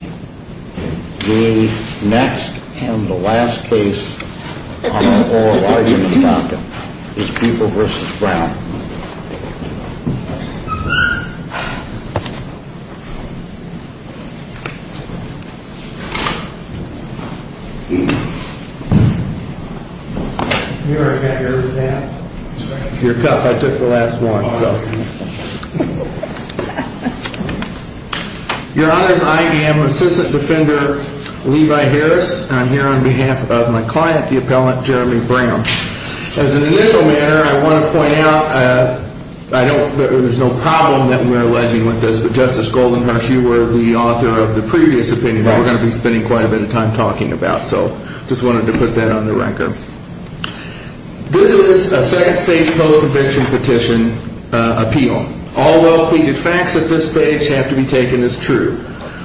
The next and the last case on our oral argument docket is People v. Brown. You already had yours in hand? Your cup. I took the last one. Your Honor, I am Assistant Defender Levi Harris, and I'm here on behalf of my client, the appellant, Jeremy Brown. As an initial matter, I want to point out that there's no problem that we're alleging with this, but Justice Goldenhush, you were the author of the previous opinion that we're going to be spending quite a bit of time talking about, so I just wanted to put that on the record. This is a second-stage post-conviction petition appeal. All well-pleaded facts at this stage have to be taken as true.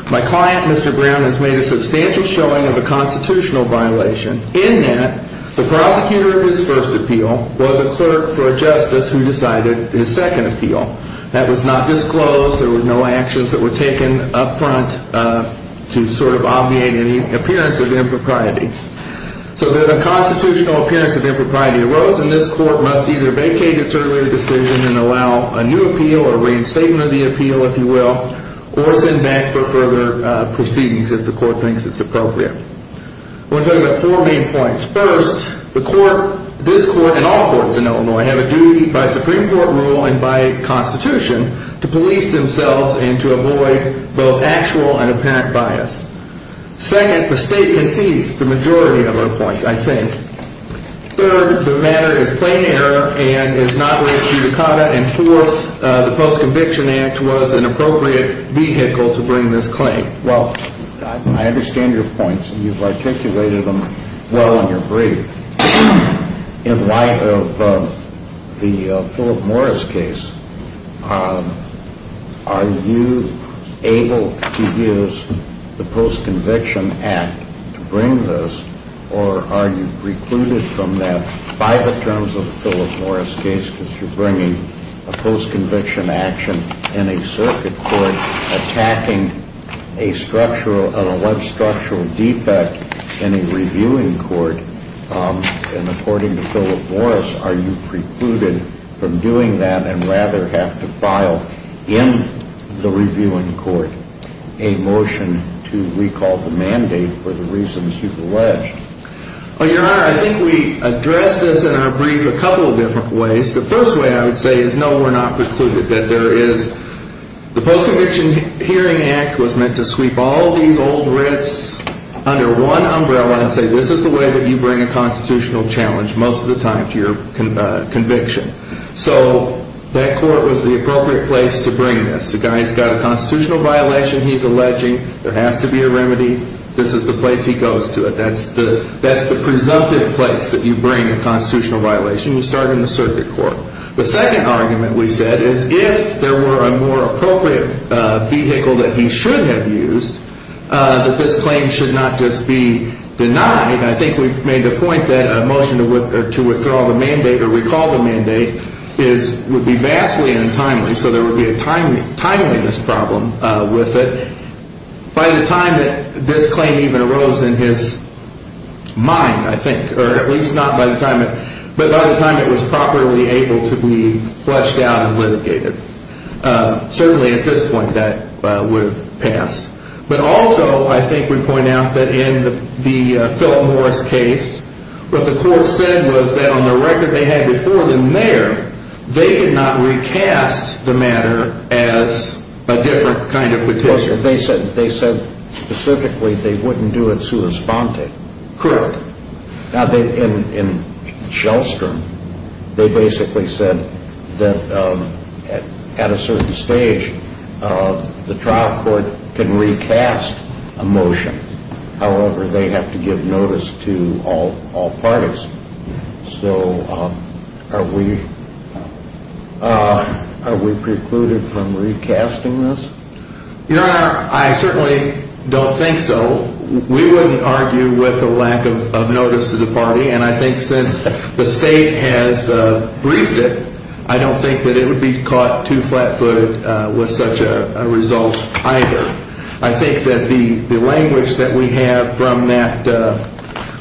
My client, Mr. Brown, has made a substantial showing of a constitutional violation in that the prosecutor of his first appeal was a clerk for a justice who decided his second appeal. That was not disclosed. There were no actions that were taken up front to sort of obviate any appearance of impropriety. So that a constitutional appearance of impropriety arose, and this court must either vacate its earlier decision and allow a new appeal or reinstatement of the appeal, if you will, or send back for further proceedings if the court thinks it's appropriate. I want to talk about four main points. First, this court and all courts in Illinois have a duty by Supreme Court rule and by Constitution to police themselves and to avoid both actual and apparent bias. Second, the State concedes the majority of our points, I think. Third, the matter is plain error and is not a waste of your time. And fourth, the Post-Conviction Act was an appropriate vehicle to bring this claim. Well, I understand your points, and you've articulated them well in your brief. In light of the Philip Morris case, are you able to use the Post-Conviction Act to bring this, or are you precluded from that by the terms of the Philip Morris case because you're bringing a post-conviction action in a circuit court attacking a structural, a web-structural defect in a reviewing court? And according to Philip Morris, are you precluded from doing that and rather have to file in the reviewing court a motion to recall the mandate for the reasons you've alleged? Well, Your Honor, I think we addressed this in our brief a couple of different ways. The first way, I would say, is no, we're not precluded. The Post-Conviction Hearing Act was meant to sweep all these old writs under one umbrella and say, this is the way that you bring a constitutional challenge most of the time to your conviction. So that court was the appropriate place to bring this. The guy's got a constitutional violation he's alleging. There has to be a remedy. This is the place he goes to. That's the presumptive place that you bring a constitutional violation. You start in the circuit court. The second argument we said is if there were a more appropriate vehicle that he should have used, that this claim should not just be denied. I think we've made the point that a motion to withdraw the mandate or recall the mandate would be vastly untimely. So there would be a timeliness problem with it. By the time that this claim even arose in his mind, I think, or at least not by the time, but by the time it was properly able to be fleshed out and litigated. Certainly at this point that would have passed. But also, I think we point out that in the Philip Morris case, what the court said was that on the record they had before him there, they did not recast the matter as a different kind of petition. They said specifically they wouldn't do it sua sponte. Correct. Now, in Shellstrom, they basically said that at a certain stage the trial court can recast a motion. However, they have to give notice to all parties. So are we precluded from recasting this? Your Honor, I certainly don't think so. We wouldn't argue with the lack of notice to the party. And I think since the state has briefed it, I don't think that it would be caught too flat footed with such a result either. I think that the language that we have from that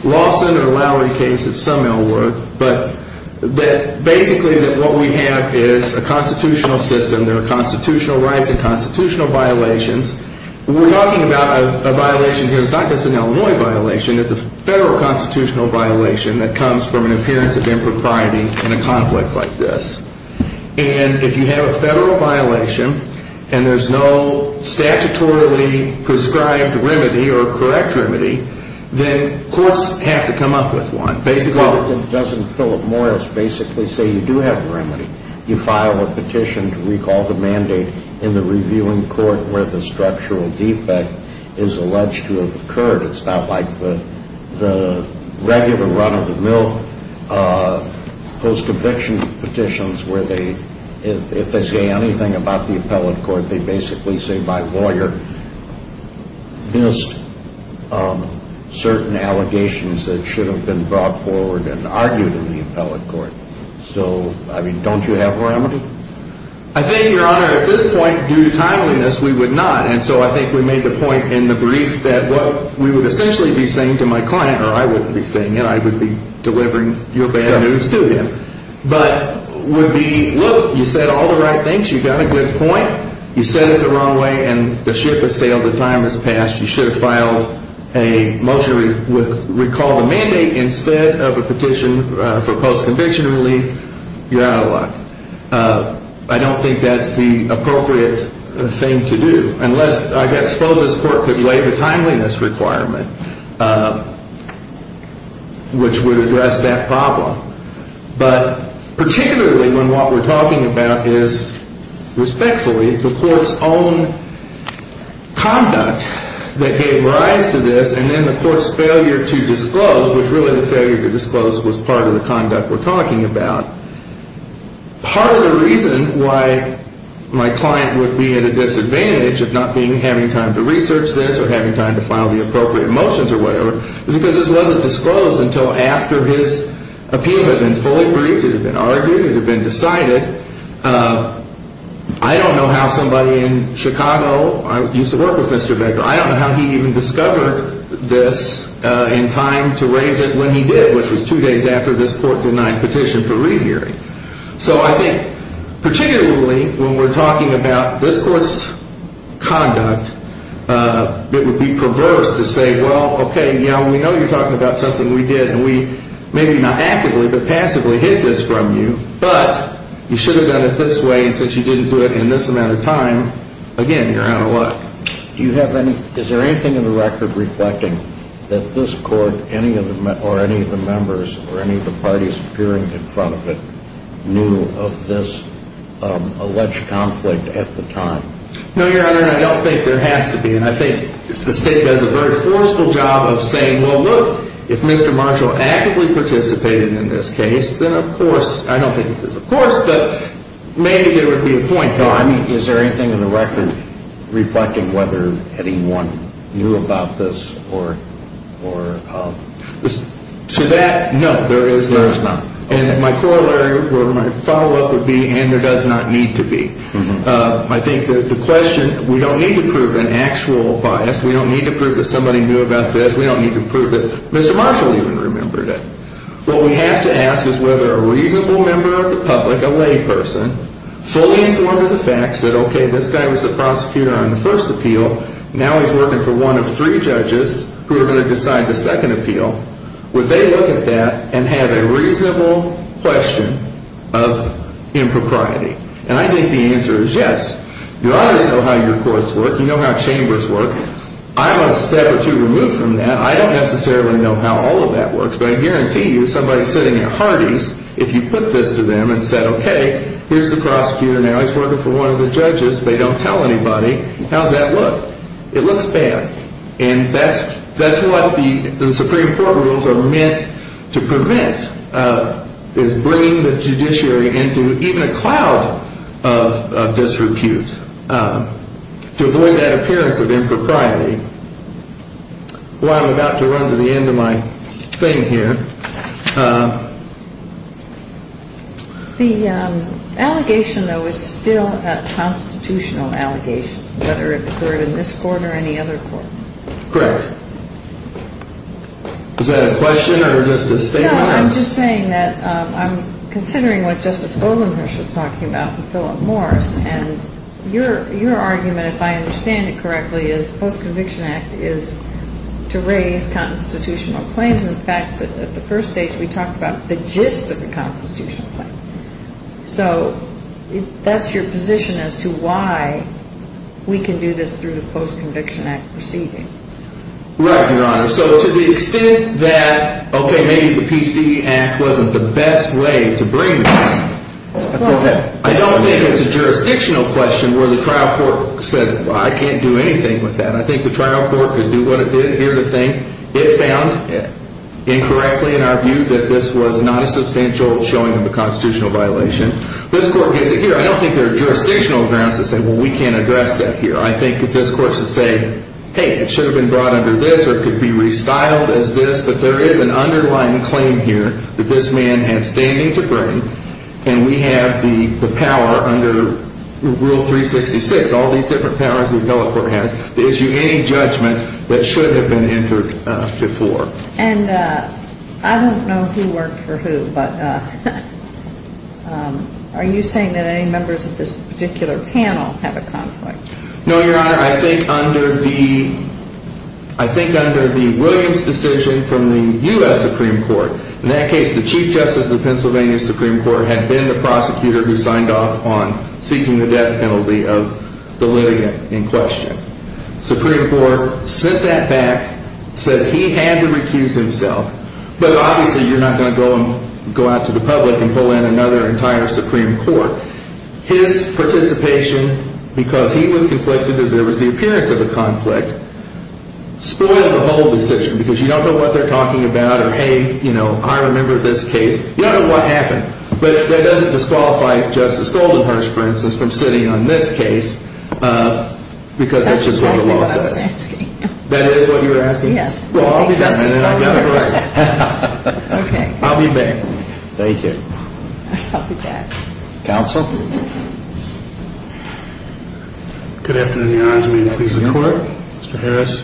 Lawson or Lowry case, it's some ill word, but that basically what we have is a constitutional system. There are constitutional rights and constitutional violations. We're talking about a violation here that's not just an Illinois violation. It's a federal constitutional violation that comes from an appearance of impropriety in a conflict like this. And if you have a federal violation and there's no statutorily prescribed remedy or correct remedy, then courts have to come up with one. Well, it doesn't Philip Morris basically say you do have remedy. You file a petition to recall the mandate in the reviewing court where the structural defect is alleged to have occurred. It's not like the regular run of the mill post-eviction petitions where if they say anything about the appellate court, they basically say my lawyer missed certain allegations that should have been brought forward and argued in the appellate court. So, I mean, don't you have remedy? I think, Your Honor, at this point due to timeliness, we would not. And so I think we made the point in the briefs that what we would essentially be saying to my client, or I wouldn't be saying it, I would be delivering your bad news to him. But would be, look, you said all the right things. You've got a good point. You said it the wrong way and the ship has sailed. The time has passed. You should have filed a motion with recall the mandate instead of a petition for post-conviction relief. You're out of luck. I don't think that's the appropriate thing to do unless I suppose this court could lay the timeliness requirement which would address that problem. But particularly when what we're talking about is, respectfully, the court's own conduct that gave rise to this and then the court's failure to disclose, which really the failure to disclose was part of the conduct we're talking about. Part of the reason why my client would be at a disadvantage of not having time to research this or having time to file the appropriate motions or whatever is because this wasn't disclosed until after his appeal had been fully briefed. It had been argued. It had been decided. I don't know how somebody in Chicago used to work with Mr. Baker. I don't know how he even discovered this in time to raise it when he did, which was two days after this court denied petition for re-hearing. So I think particularly when we're talking about this court's conduct, it would be perverse to say, well, okay, we know you're talking about something we did and we maybe not actively but passively hid this from you, but you should have done it this way and since you didn't do it in this amount of time, again, you're out of luck. Is there anything in the record reflecting that this court or any of the members or any of the parties appearing in front of it knew of this alleged conflict at the time? No, Your Honor, and I don't think there has to be. And I think the State does a very forceful job of saying, well, look, if Mr. Marshall actively participated in this case, then of course, I don't think this is of course, but maybe there would be a point. No, I mean, is there anything in the record reflecting whether anyone knew about this or? To that, no, there is not. And my corollary or my follow-up would be, and there does not need to be. I think that the question, we don't need to prove an actual bias. We don't need to prove that somebody knew about this. We don't need to prove that Mr. Marshall even remembered it. What we have to ask is whether a reasonable member of the public, a layperson, fully informed of the facts that, okay, this guy was the prosecutor on the first appeal. Now he's working for one of three judges who are going to decide the second appeal. Would they look at that and have a reasonable question of impropriety? And I think the answer is yes. You always know how your courts work. You know how chambers work. I'm a step or two removed from that. I don't necessarily know how all of that works, but I guarantee you somebody sitting at Hardee's, if you put this to them and said, okay, here's the prosecutor. Now he's working for one of the judges. They don't tell anybody. How does that look? It looks bad. And that's what the Supreme Court rules are meant to prevent, is bringing the judiciary into even a cloud of disrepute to avoid that appearance of impropriety. Well, I'm about to run to the end of my thing here. The allegation, though, is still a constitutional allegation, whether it occurred in this court or any other court. Correct. Is that a question or just a statement? No, I'm just saying that I'm considering what Justice Obernrush was talking about with Philip Morris, and your argument, if I understand it correctly, is the Post-Conviction Act is to raise constitutional claims. In fact, at the first stage we talked about the gist of the constitutional claim. So that's your position as to why we can do this through the Post-Conviction Act proceeding. Right, Your Honor. So to the extent that, okay, maybe the PC Act wasn't the best way to bring this, I don't think it's a jurisdictional question where the trial court said, well, I can't do anything with that. I think the trial court could do what it did here to think it found, incorrectly in our view, that this was not a substantial showing of a constitutional violation. This court gives it here. I don't think there are jurisdictional grounds to say, well, we can't address that here. I think if this court is to say, hey, it should have been brought under this or it could be restyled as this, but there is an underlying claim here that this man had standing to bring, and we have the power under Rule 366, all these different powers the appellate court has, to issue any judgment that should have been entered before. And I don't know who worked for who, but are you saying that any members of this particular panel have a conflict? No, Your Honor. Your Honor, I think under the Williams decision from the U.S. Supreme Court, in that case the Chief Justice of the Pennsylvania Supreme Court had been the prosecutor who signed off on seeking the death penalty of the litigant in question. The Supreme Court sent that back, said he had to recuse himself, but obviously you're not going to go out to the public and pull in another entire Supreme Court. His participation, because he was conflicted that there was the appearance of a conflict, spoiled the whole decision, because you don't know what they're talking about, or hey, you know, I remember this case. You don't know what happened. But that doesn't disqualify Justice Goldenherz, for instance, from sitting on this case, because that's just what the law says. That's exactly what I was asking. That is what you were asking? Yes. Well, I'll be back. Justice Goldenherz. Okay. I'll be back. Thank you. I'll be back. Counsel. Good afternoon, Your Honors. May it please the Court. Mr. Harris.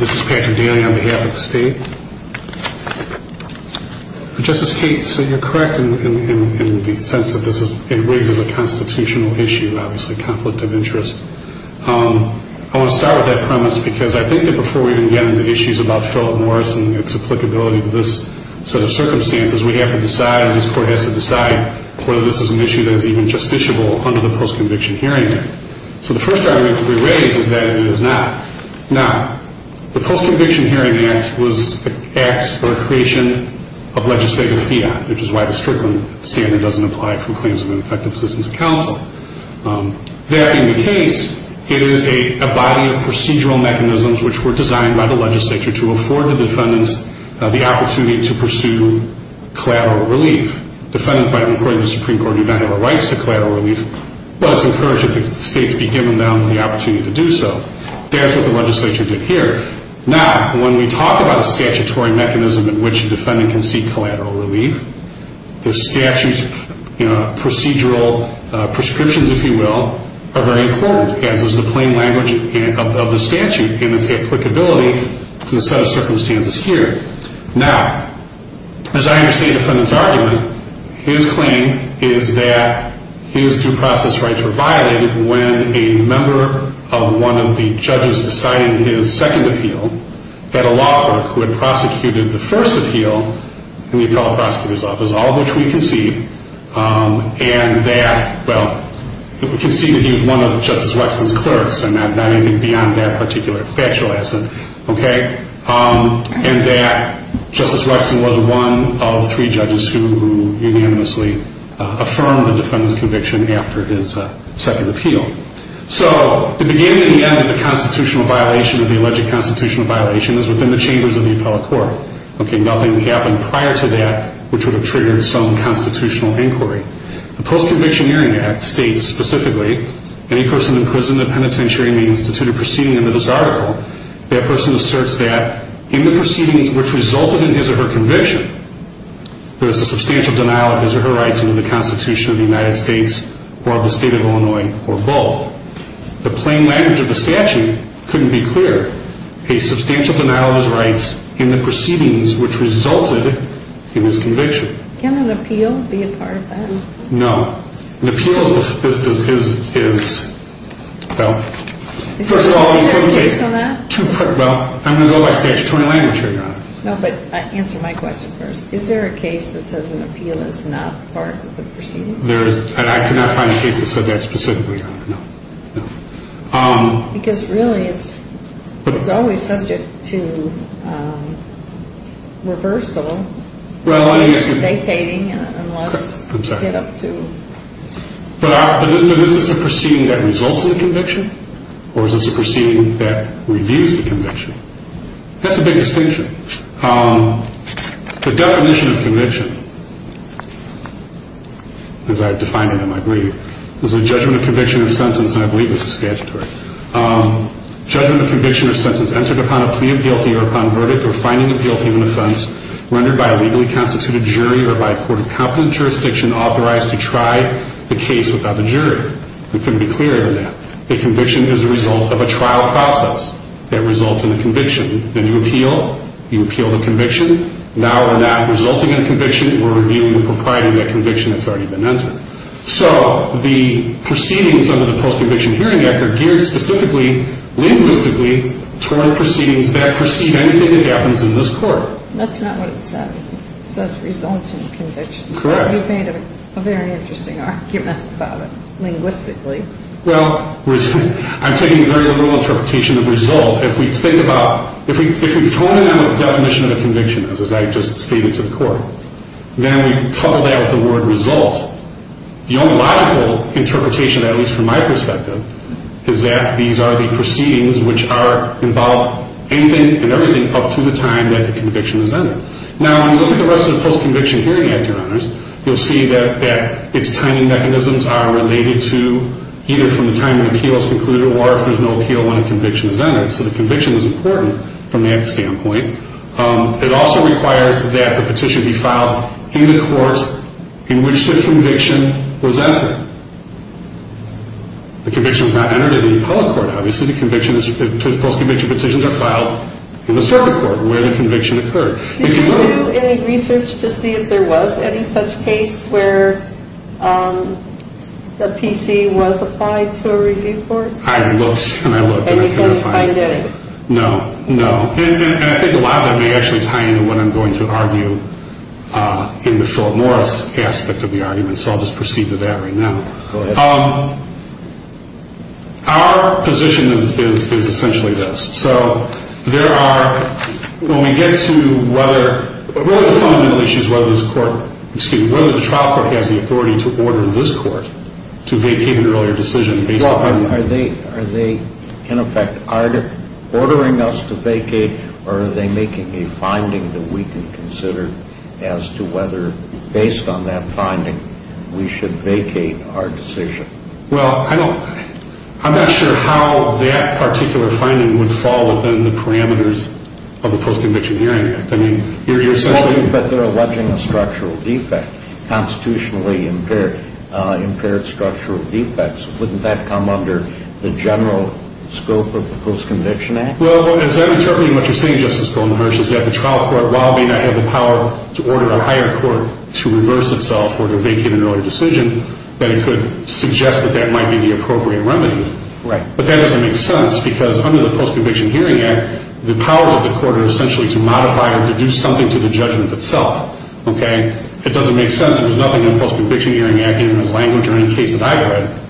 This is Patrick Daly on behalf of the State. Justice Kate, so you're correct in the sense that this raises a constitutional issue, obviously a conflict of interest. I want to start with that premise because I think that before we even get into issues about Philip Morrison and its applicability to this set of circumstances, we have to decide, and this Court has to decide, whether this is an issue that is even justiciable under the Post-Conviction Hearing Act. So the first argument to be raised is that it is not. Now, the Post-Conviction Hearing Act was an act or a creation of legislative fiat, which is why the Strickland Standard doesn't apply for claims of an effective assistance of counsel. There in the case, it is a body of procedural mechanisms which were designed by the legislature to afford the defendants the opportunity to pursue collateral relief. Defendants, according to the Supreme Court, do not have a right to collateral relief, but it's encouraged that the states be given them the opportunity to do so. That's what the legislature did here. Now, when we talk about a statutory mechanism in which a defendant can seek collateral relief, the statute's procedural prescriptions, if you will, are very important, as is the plain language of the statute in its applicability to the set of circumstances here. Now, as I understand the defendant's argument, his claim is that his due process rights were violated when a member of one of the judges decided in his second appeal that a law clerk who had prosecuted the first appeal in the appellate prosecutor's office, all of which we concede, and that, well, we concede that he was one of Justice Wexler's clerks, and not anything beyond that particular factual essence, okay, and that Justice Wexler was one of three judges who unanimously affirmed the defendant's conviction after his second appeal. So the beginning and the end of the constitutional violation or the alleged constitutional violation is within the chambers of the appellate court. Okay, nothing happened prior to that which would have triggered some constitutional inquiry. The Post-Conviction Hearing Act states specifically, any person imprisoned in penitentiary may institute a proceeding under this article. That person asserts that in the proceedings which resulted in his or her conviction, there is a substantial denial of his or her rights under the Constitution of the United States or of the State of Illinois or both. The plain language of the statute couldn't be clearer. A substantial denial of his rights in the proceedings which resulted in his conviction. Can an appeal be a part of that? No. An appeal is, well, first of all, you couldn't take two parts. Is there a case on that? Well, I'm going to go by statutory language here, Your Honor. No, but answer my question first. Is there a case that says an appeal is not part of the proceedings? There is, and I could not find a case that said that specifically, Your Honor. No, no. Because, really, it's always subject to reversal. Well, I guess. Or vacating unless you get up to. But is this a proceeding that results in a conviction? Or is this a proceeding that reviews the conviction? That's a big distinction. The definition of conviction, as I've defined it in my brief, is a judgment of conviction or sentence, and I believe this is statutory. Judgment of conviction or sentence entered upon a plea of guilty or upon verdict or finding of guilty of an offense rendered by a legally constituted jury or by a court of competent jurisdiction authorized to try the case without a jury. It couldn't be clearer than that. A conviction is a result of a trial process that results in a conviction. Then you appeal. You appeal the conviction. Now we're not resulting in a conviction. We're reviewing the propriety of that conviction that's already been entered. So the proceedings under the Post-Conviction Hearing Act are geared specifically, linguistically, toward proceedings that precede anything that happens in this court. That's not what it says. It says results in conviction. Correct. You've made a very interesting argument about it linguistically. Well, I'm taking a very little interpretation of result. If we think about, if we tone it down to the definition of a conviction, as I've just stated to the court, then we couple that with the word result. The only logical interpretation, at least from my perspective, is that these are the proceedings which involve anything and everything up to the time that the conviction is entered. Now, when you look at the rest of the Post-Conviction Hearing Act, Your Honors, you'll see that its timing mechanisms are related to either from the time an appeal is concluded or if there's no appeal when a conviction is entered. So the conviction is important from that standpoint. It also requires that the petition be filed in the court in which the conviction was entered. The conviction was not entered in the appellate court, obviously. The post-conviction petitions are filed in the circuit court where the conviction occurred. Did you do any research to see if there was any such case where the PC was applied to a review court? I looked and I looked and I couldn't find it. And you couldn't find it? No. No. And I think a lot of that may actually tie into what I'm going to argue in the Philip Morris aspect of the argument, so I'll just proceed to that right now. Go ahead. Our position is essentially this. So there are, when we get to whether, really the fundamental issue is whether this court, excuse me, whether the trial court has the authority to order this court to vacate an earlier decision based upon- Are they, in effect, ordering us to vacate or are they making a finding that we can consider as to whether, based on that finding, we should vacate our decision? Well, I'm not sure how that particular finding would fall within the parameters of the Post-Conviction Hearing Act. I mean, you're essentially- Well, but they're alleging a structural defect, constitutionally impaired structural defects. Wouldn't that come under the general scope of the Post-Conviction Act? Well, as I'm interpreting what you're saying, Justice Goldenberg, is that the trial court, while it may not have the power to order a higher court to reverse itself or to vacate an earlier decision, that it could suggest that that might be the appropriate remedy. Right. But that doesn't make sense because under the Post-Conviction Hearing Act, the powers of the court are essentially to modify or to do something to the judgment itself. Okay? And it doesn't make sense that there's nothing in the Post-Conviction Hearing Act in the language or in the case that I've read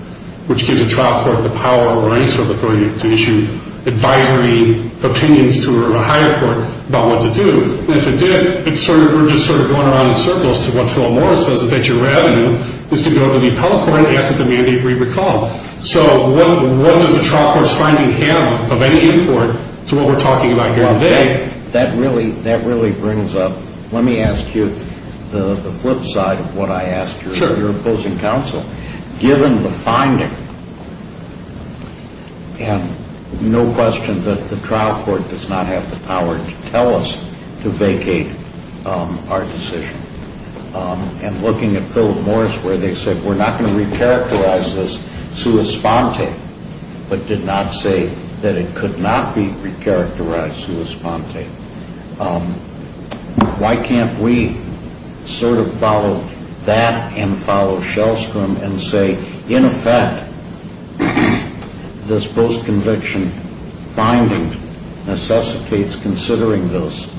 which gives a trial court the power or any sort of authority to issue advisory opinions to a higher court about what to do. And if it did, we're just sort of going around in circles to what Phil Morris says, is that your revenue is to go to the appellate court and ask that the mandate be recalled. So what does a trial court's finding have of any import to what we're talking about here today? That really brings up, let me ask you the flip side of what I asked your opposing counsel. Sure. Given the finding, and no question that the trial court does not have the power to tell us to vacate our decision, and looking at Phil Morris where they said we're not going to recharacterize this sua sponte, but did not say that it could not be recharacterized sua sponte, why can't we sort of follow that and follow Shellstrom and say, in effect, this post-conviction finding necessitates considering this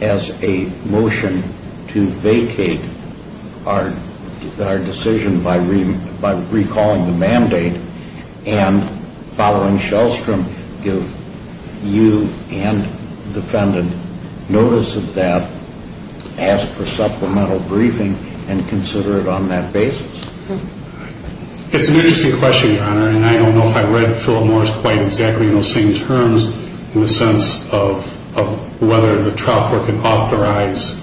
as a motion to vacate our decision by recalling the mandate and following Shellstrom give you and defendant notice of that, ask for supplemental briefing, and consider it on that basis? It's an interesting question, Your Honor, and I don't know if I read Phil Morris quite exactly in those same terms in the sense of whether the trial court could authorize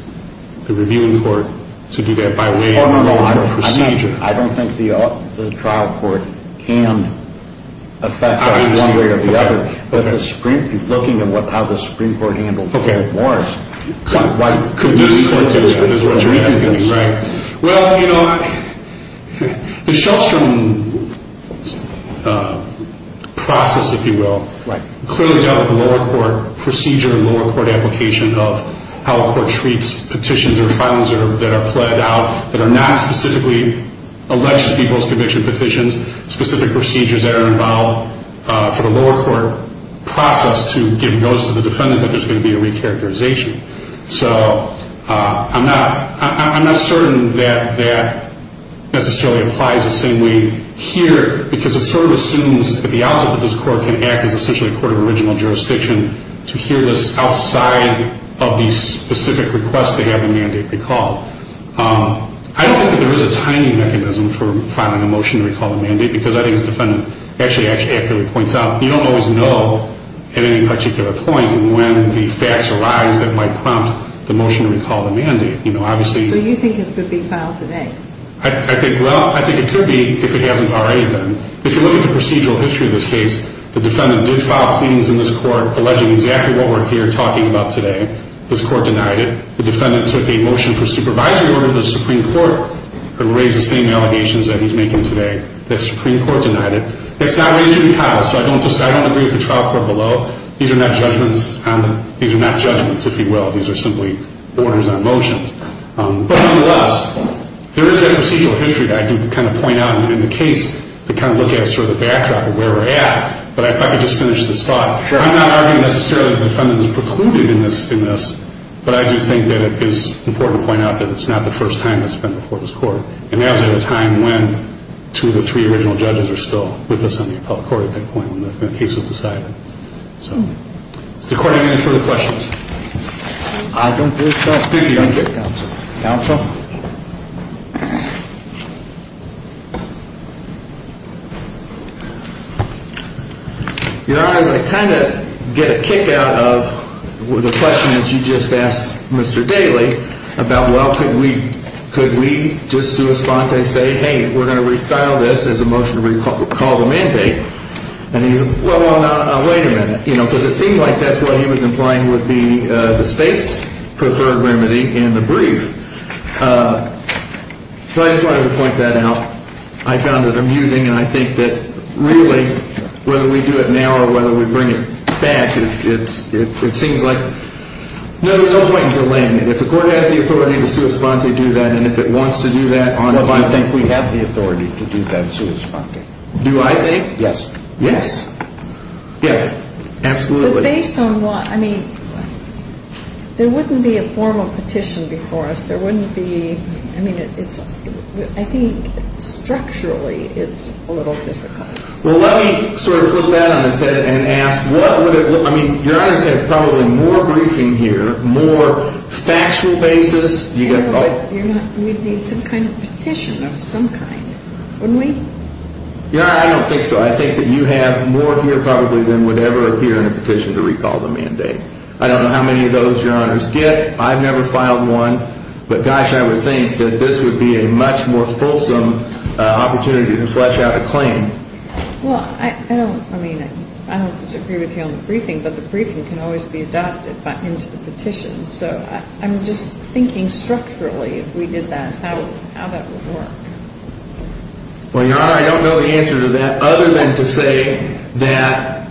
the reviewing court to do that by way of the procedure. I don't think the trial court can affect that in one way or the other, but looking at how the Supreme Court handled Phil Morris. Well, you know, the Shellstrom process, if you will, clearly dealt with the lower court procedure and lower court application of how a court treats petitions or filings that are plead out that are not specifically alleged to be post-conviction petitions, specific procedures that are involved for the lower court process to give notice to the defendant that there's going to be a recharacterization. So I'm not certain that that necessarily applies the same way here, because it sort of assumes at the outset that this court can act as essentially a court of original jurisdiction to hear this outside of the specific request to have the mandate recalled. I don't think that there is a timing mechanism for filing a motion to recall the mandate, because I think as the defendant actually accurately points out, you don't always know at any particular point when the facts arise that might prompt the motion to recall the mandate. So you think it could be filed today? Well, I think it could be if it hasn't already been. If you look at the procedural history of this case, the defendant did file pleadings in this court alleging exactly what we're here talking about today. This court denied it. The defendant took a motion for supervisory order to the Supreme Court that would raise the same allegations that he's making today. The Supreme Court denied it. It's not raised to be filed, so I don't agree with the trial court below. These are not judgments, if you will. These are simply orders on motions. But nonetheless, there is that procedural history that I do kind of point out in the case to kind of look at sort of the backdrop of where we're at. But if I could just finish this thought. I'm not arguing necessarily the defendant was precluded in this, but I do think that it is important to point out that it's not the first time this has been before this court. And that was at a time when two of the three original judges were still with us on the appellate court at that point when the case was decided. Does the court have any further questions? I don't think so. Thank you. Counsel. Counsel. Your Honor, I kind of get a kick out of the question that you just asked Mr. Daley about, well, could we just sua sponte say, hey, we're going to restyle this as a motion to recall the mandate. And he said, well, wait a minute. You know, because it seems like that's what he was implying would be the state's preferred remedy in the brief. So I just wanted to point that out. I found it amusing. And I think that really, whether we do it now or whether we bring it back, it seems like there's no point in delaying it. If the court has the authority to sua sponte do that and if it wants to do that on its own. No, I think we have the authority to do that sua sponte. Do I think? Yes. Yes. Yeah, absolutely. But based on what, I mean, there wouldn't be a formal petition before us. There wouldn't be, I mean, it's, I think structurally it's a little difficult. Well, let me sort of flip that on its head and ask, what would it look, I mean, your Honor's had probably more briefing here, more factual basis. You're not, we'd need some kind of petition of some kind, wouldn't we? Your Honor, I don't think so. I think that you have more here probably than would ever appear in a petition to recall the mandate. I don't know how many of those your Honor's get. I've never filed one. But, gosh, I would think that this would be a much more fulsome opportunity to flesh out a claim. Well, I don't, I mean, I don't disagree with you on the briefing, but the briefing can always be adopted into the petition. So I'm just thinking structurally if we did that, how that would work. Well, your Honor, I don't know the answer to that other than to say that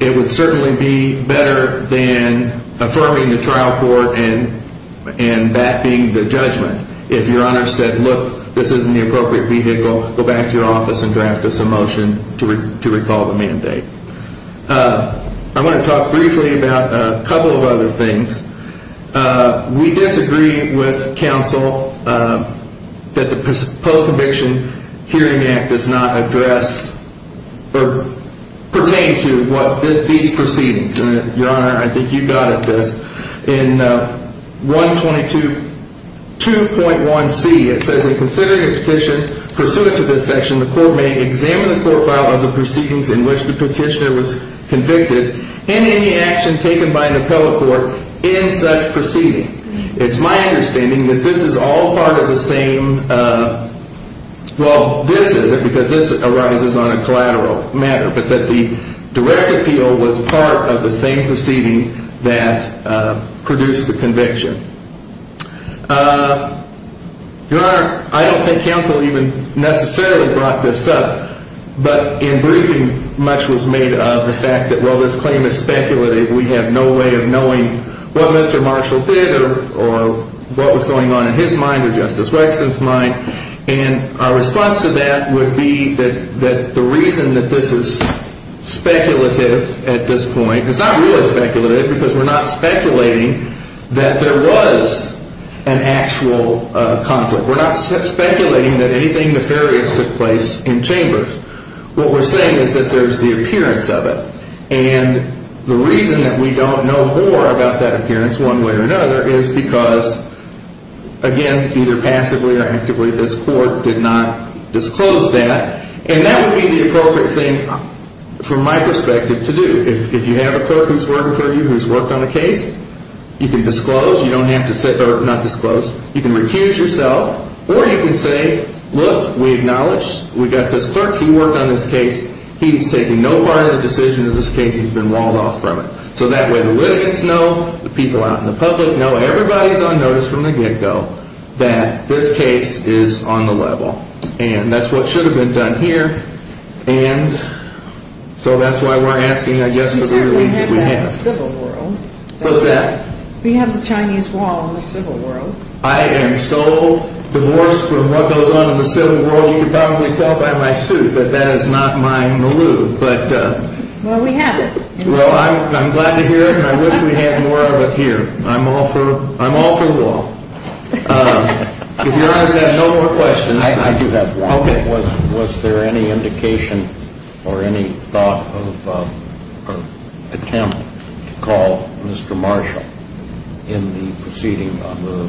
it would certainly be better than affirming the trial court and that being the judgment. If your Honor said, look, this isn't the appropriate vehicle, go back to your office and draft us a motion to recall the mandate. I want to talk briefly about a couple of other things. We disagree with counsel that the Post-Conviction Hearing Act does not address or pertain to what these proceedings. Your Honor, I think you got at this. In 122.1c, it says in considering a petition pursuant to this section, the court may examine the court file of the proceedings in which the petitioner was convicted and any action taken by an appellate court in such proceeding. It's my understanding that this is all part of the same, well, this isn't because this arises on a collateral matter, but that the direct appeal was part of the same proceeding that produced the conviction. Your Honor, I don't think counsel even necessarily brought this up, but in briefing much was made of the fact that while this claim is speculative, we have no way of knowing what Mr. Marshall did or what was going on in his mind or Justice Waxman's mind. And our response to that would be that the reason that this is speculative at this point, it's not really speculative because we're not speculating that there was an actual conflict. We're not speculating that anything nefarious took place in chambers. What we're saying is that there's the appearance of it. And the reason that we don't know more about that appearance one way or another is because, again, either passively or actively, this court did not disclose that. And that would be the appropriate thing, from my perspective, to do. If you have a clerk who's working for you, who's worked on a case, you can disclose. You don't have to sit or not disclose. You can recuse yourself or you can say, look, we acknowledge we've got this clerk. He worked on this case. He's taken no part of the decision of this case. He's been walled off from it. So that way the litigants know, the people out in the public know, everybody's on notice from the get-go that this case is on the level. And that's what should have been done here. And so that's why we're asking, I guess, for the ruling that we have. We certainly have that in the civil world. What's that? We have the Chinese wall in the civil world. I am so divorced from what goes on in the civil world, you can probably tell by my suit that that is not my milieu. Well, we have it. Well, I'm glad to hear it, and I wish we had more of it here. I'm all for wall. If Your Honor has no more questions. I do have one. Okay. Was there any indication or any thought or attempt to call Mr. Marshall in the proceeding on the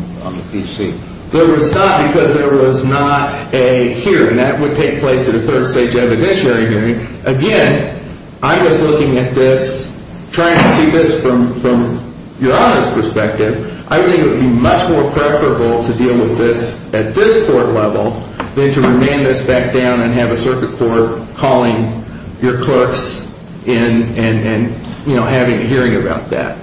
PC? There was not because there was not a hearing. That would take place at a third-stage evidentiary hearing. Again, I was looking at this, trying to see this from Your Honor's perspective. I think it would be much more preferable to deal with this at this court level than to remand this back down and have a circuit court calling your clerks in and, you know, having a hearing about that.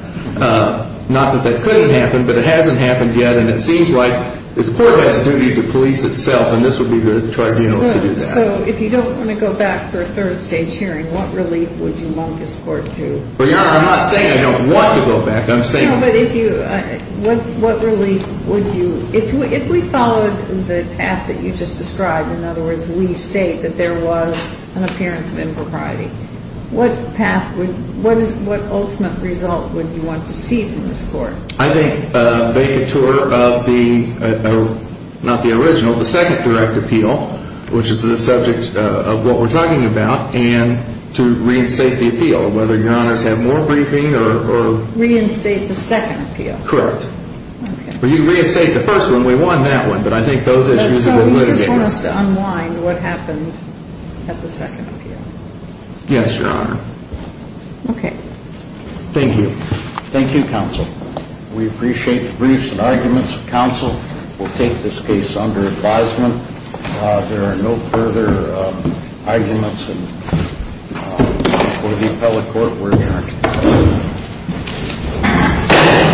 Not that that couldn't happen, but it hasn't happened yet, and it seems like the court has a duty to police itself, and this would be the tribunal to do that. So if you don't want to go back for a third-stage hearing, what relief would you want this court to? Your Honor, I'm not saying I don't want to go back. I'm saying I want to go back. What relief would you – if we followed the path that you just described, in other words, we state that there was an appearance of impropriety, what path would – what ultimate result would you want to see from this court? I think a vacatur of the – not the original, the second direct appeal, which is the subject of what we're talking about, and to reinstate the appeal, whether Your Honors have more briefing or – Reinstate the second appeal. Correct. Well, you reinstated the first one. We won that one, but I think those issues have been litigated. So you just want us to unwind what happened at the second appeal? Yes, Your Honor. Okay. Thank you. Thank you, counsel. We appreciate the briefs and arguments of counsel. We'll take this case under advisement. There are no further arguments for the appellate court. We're adjourned.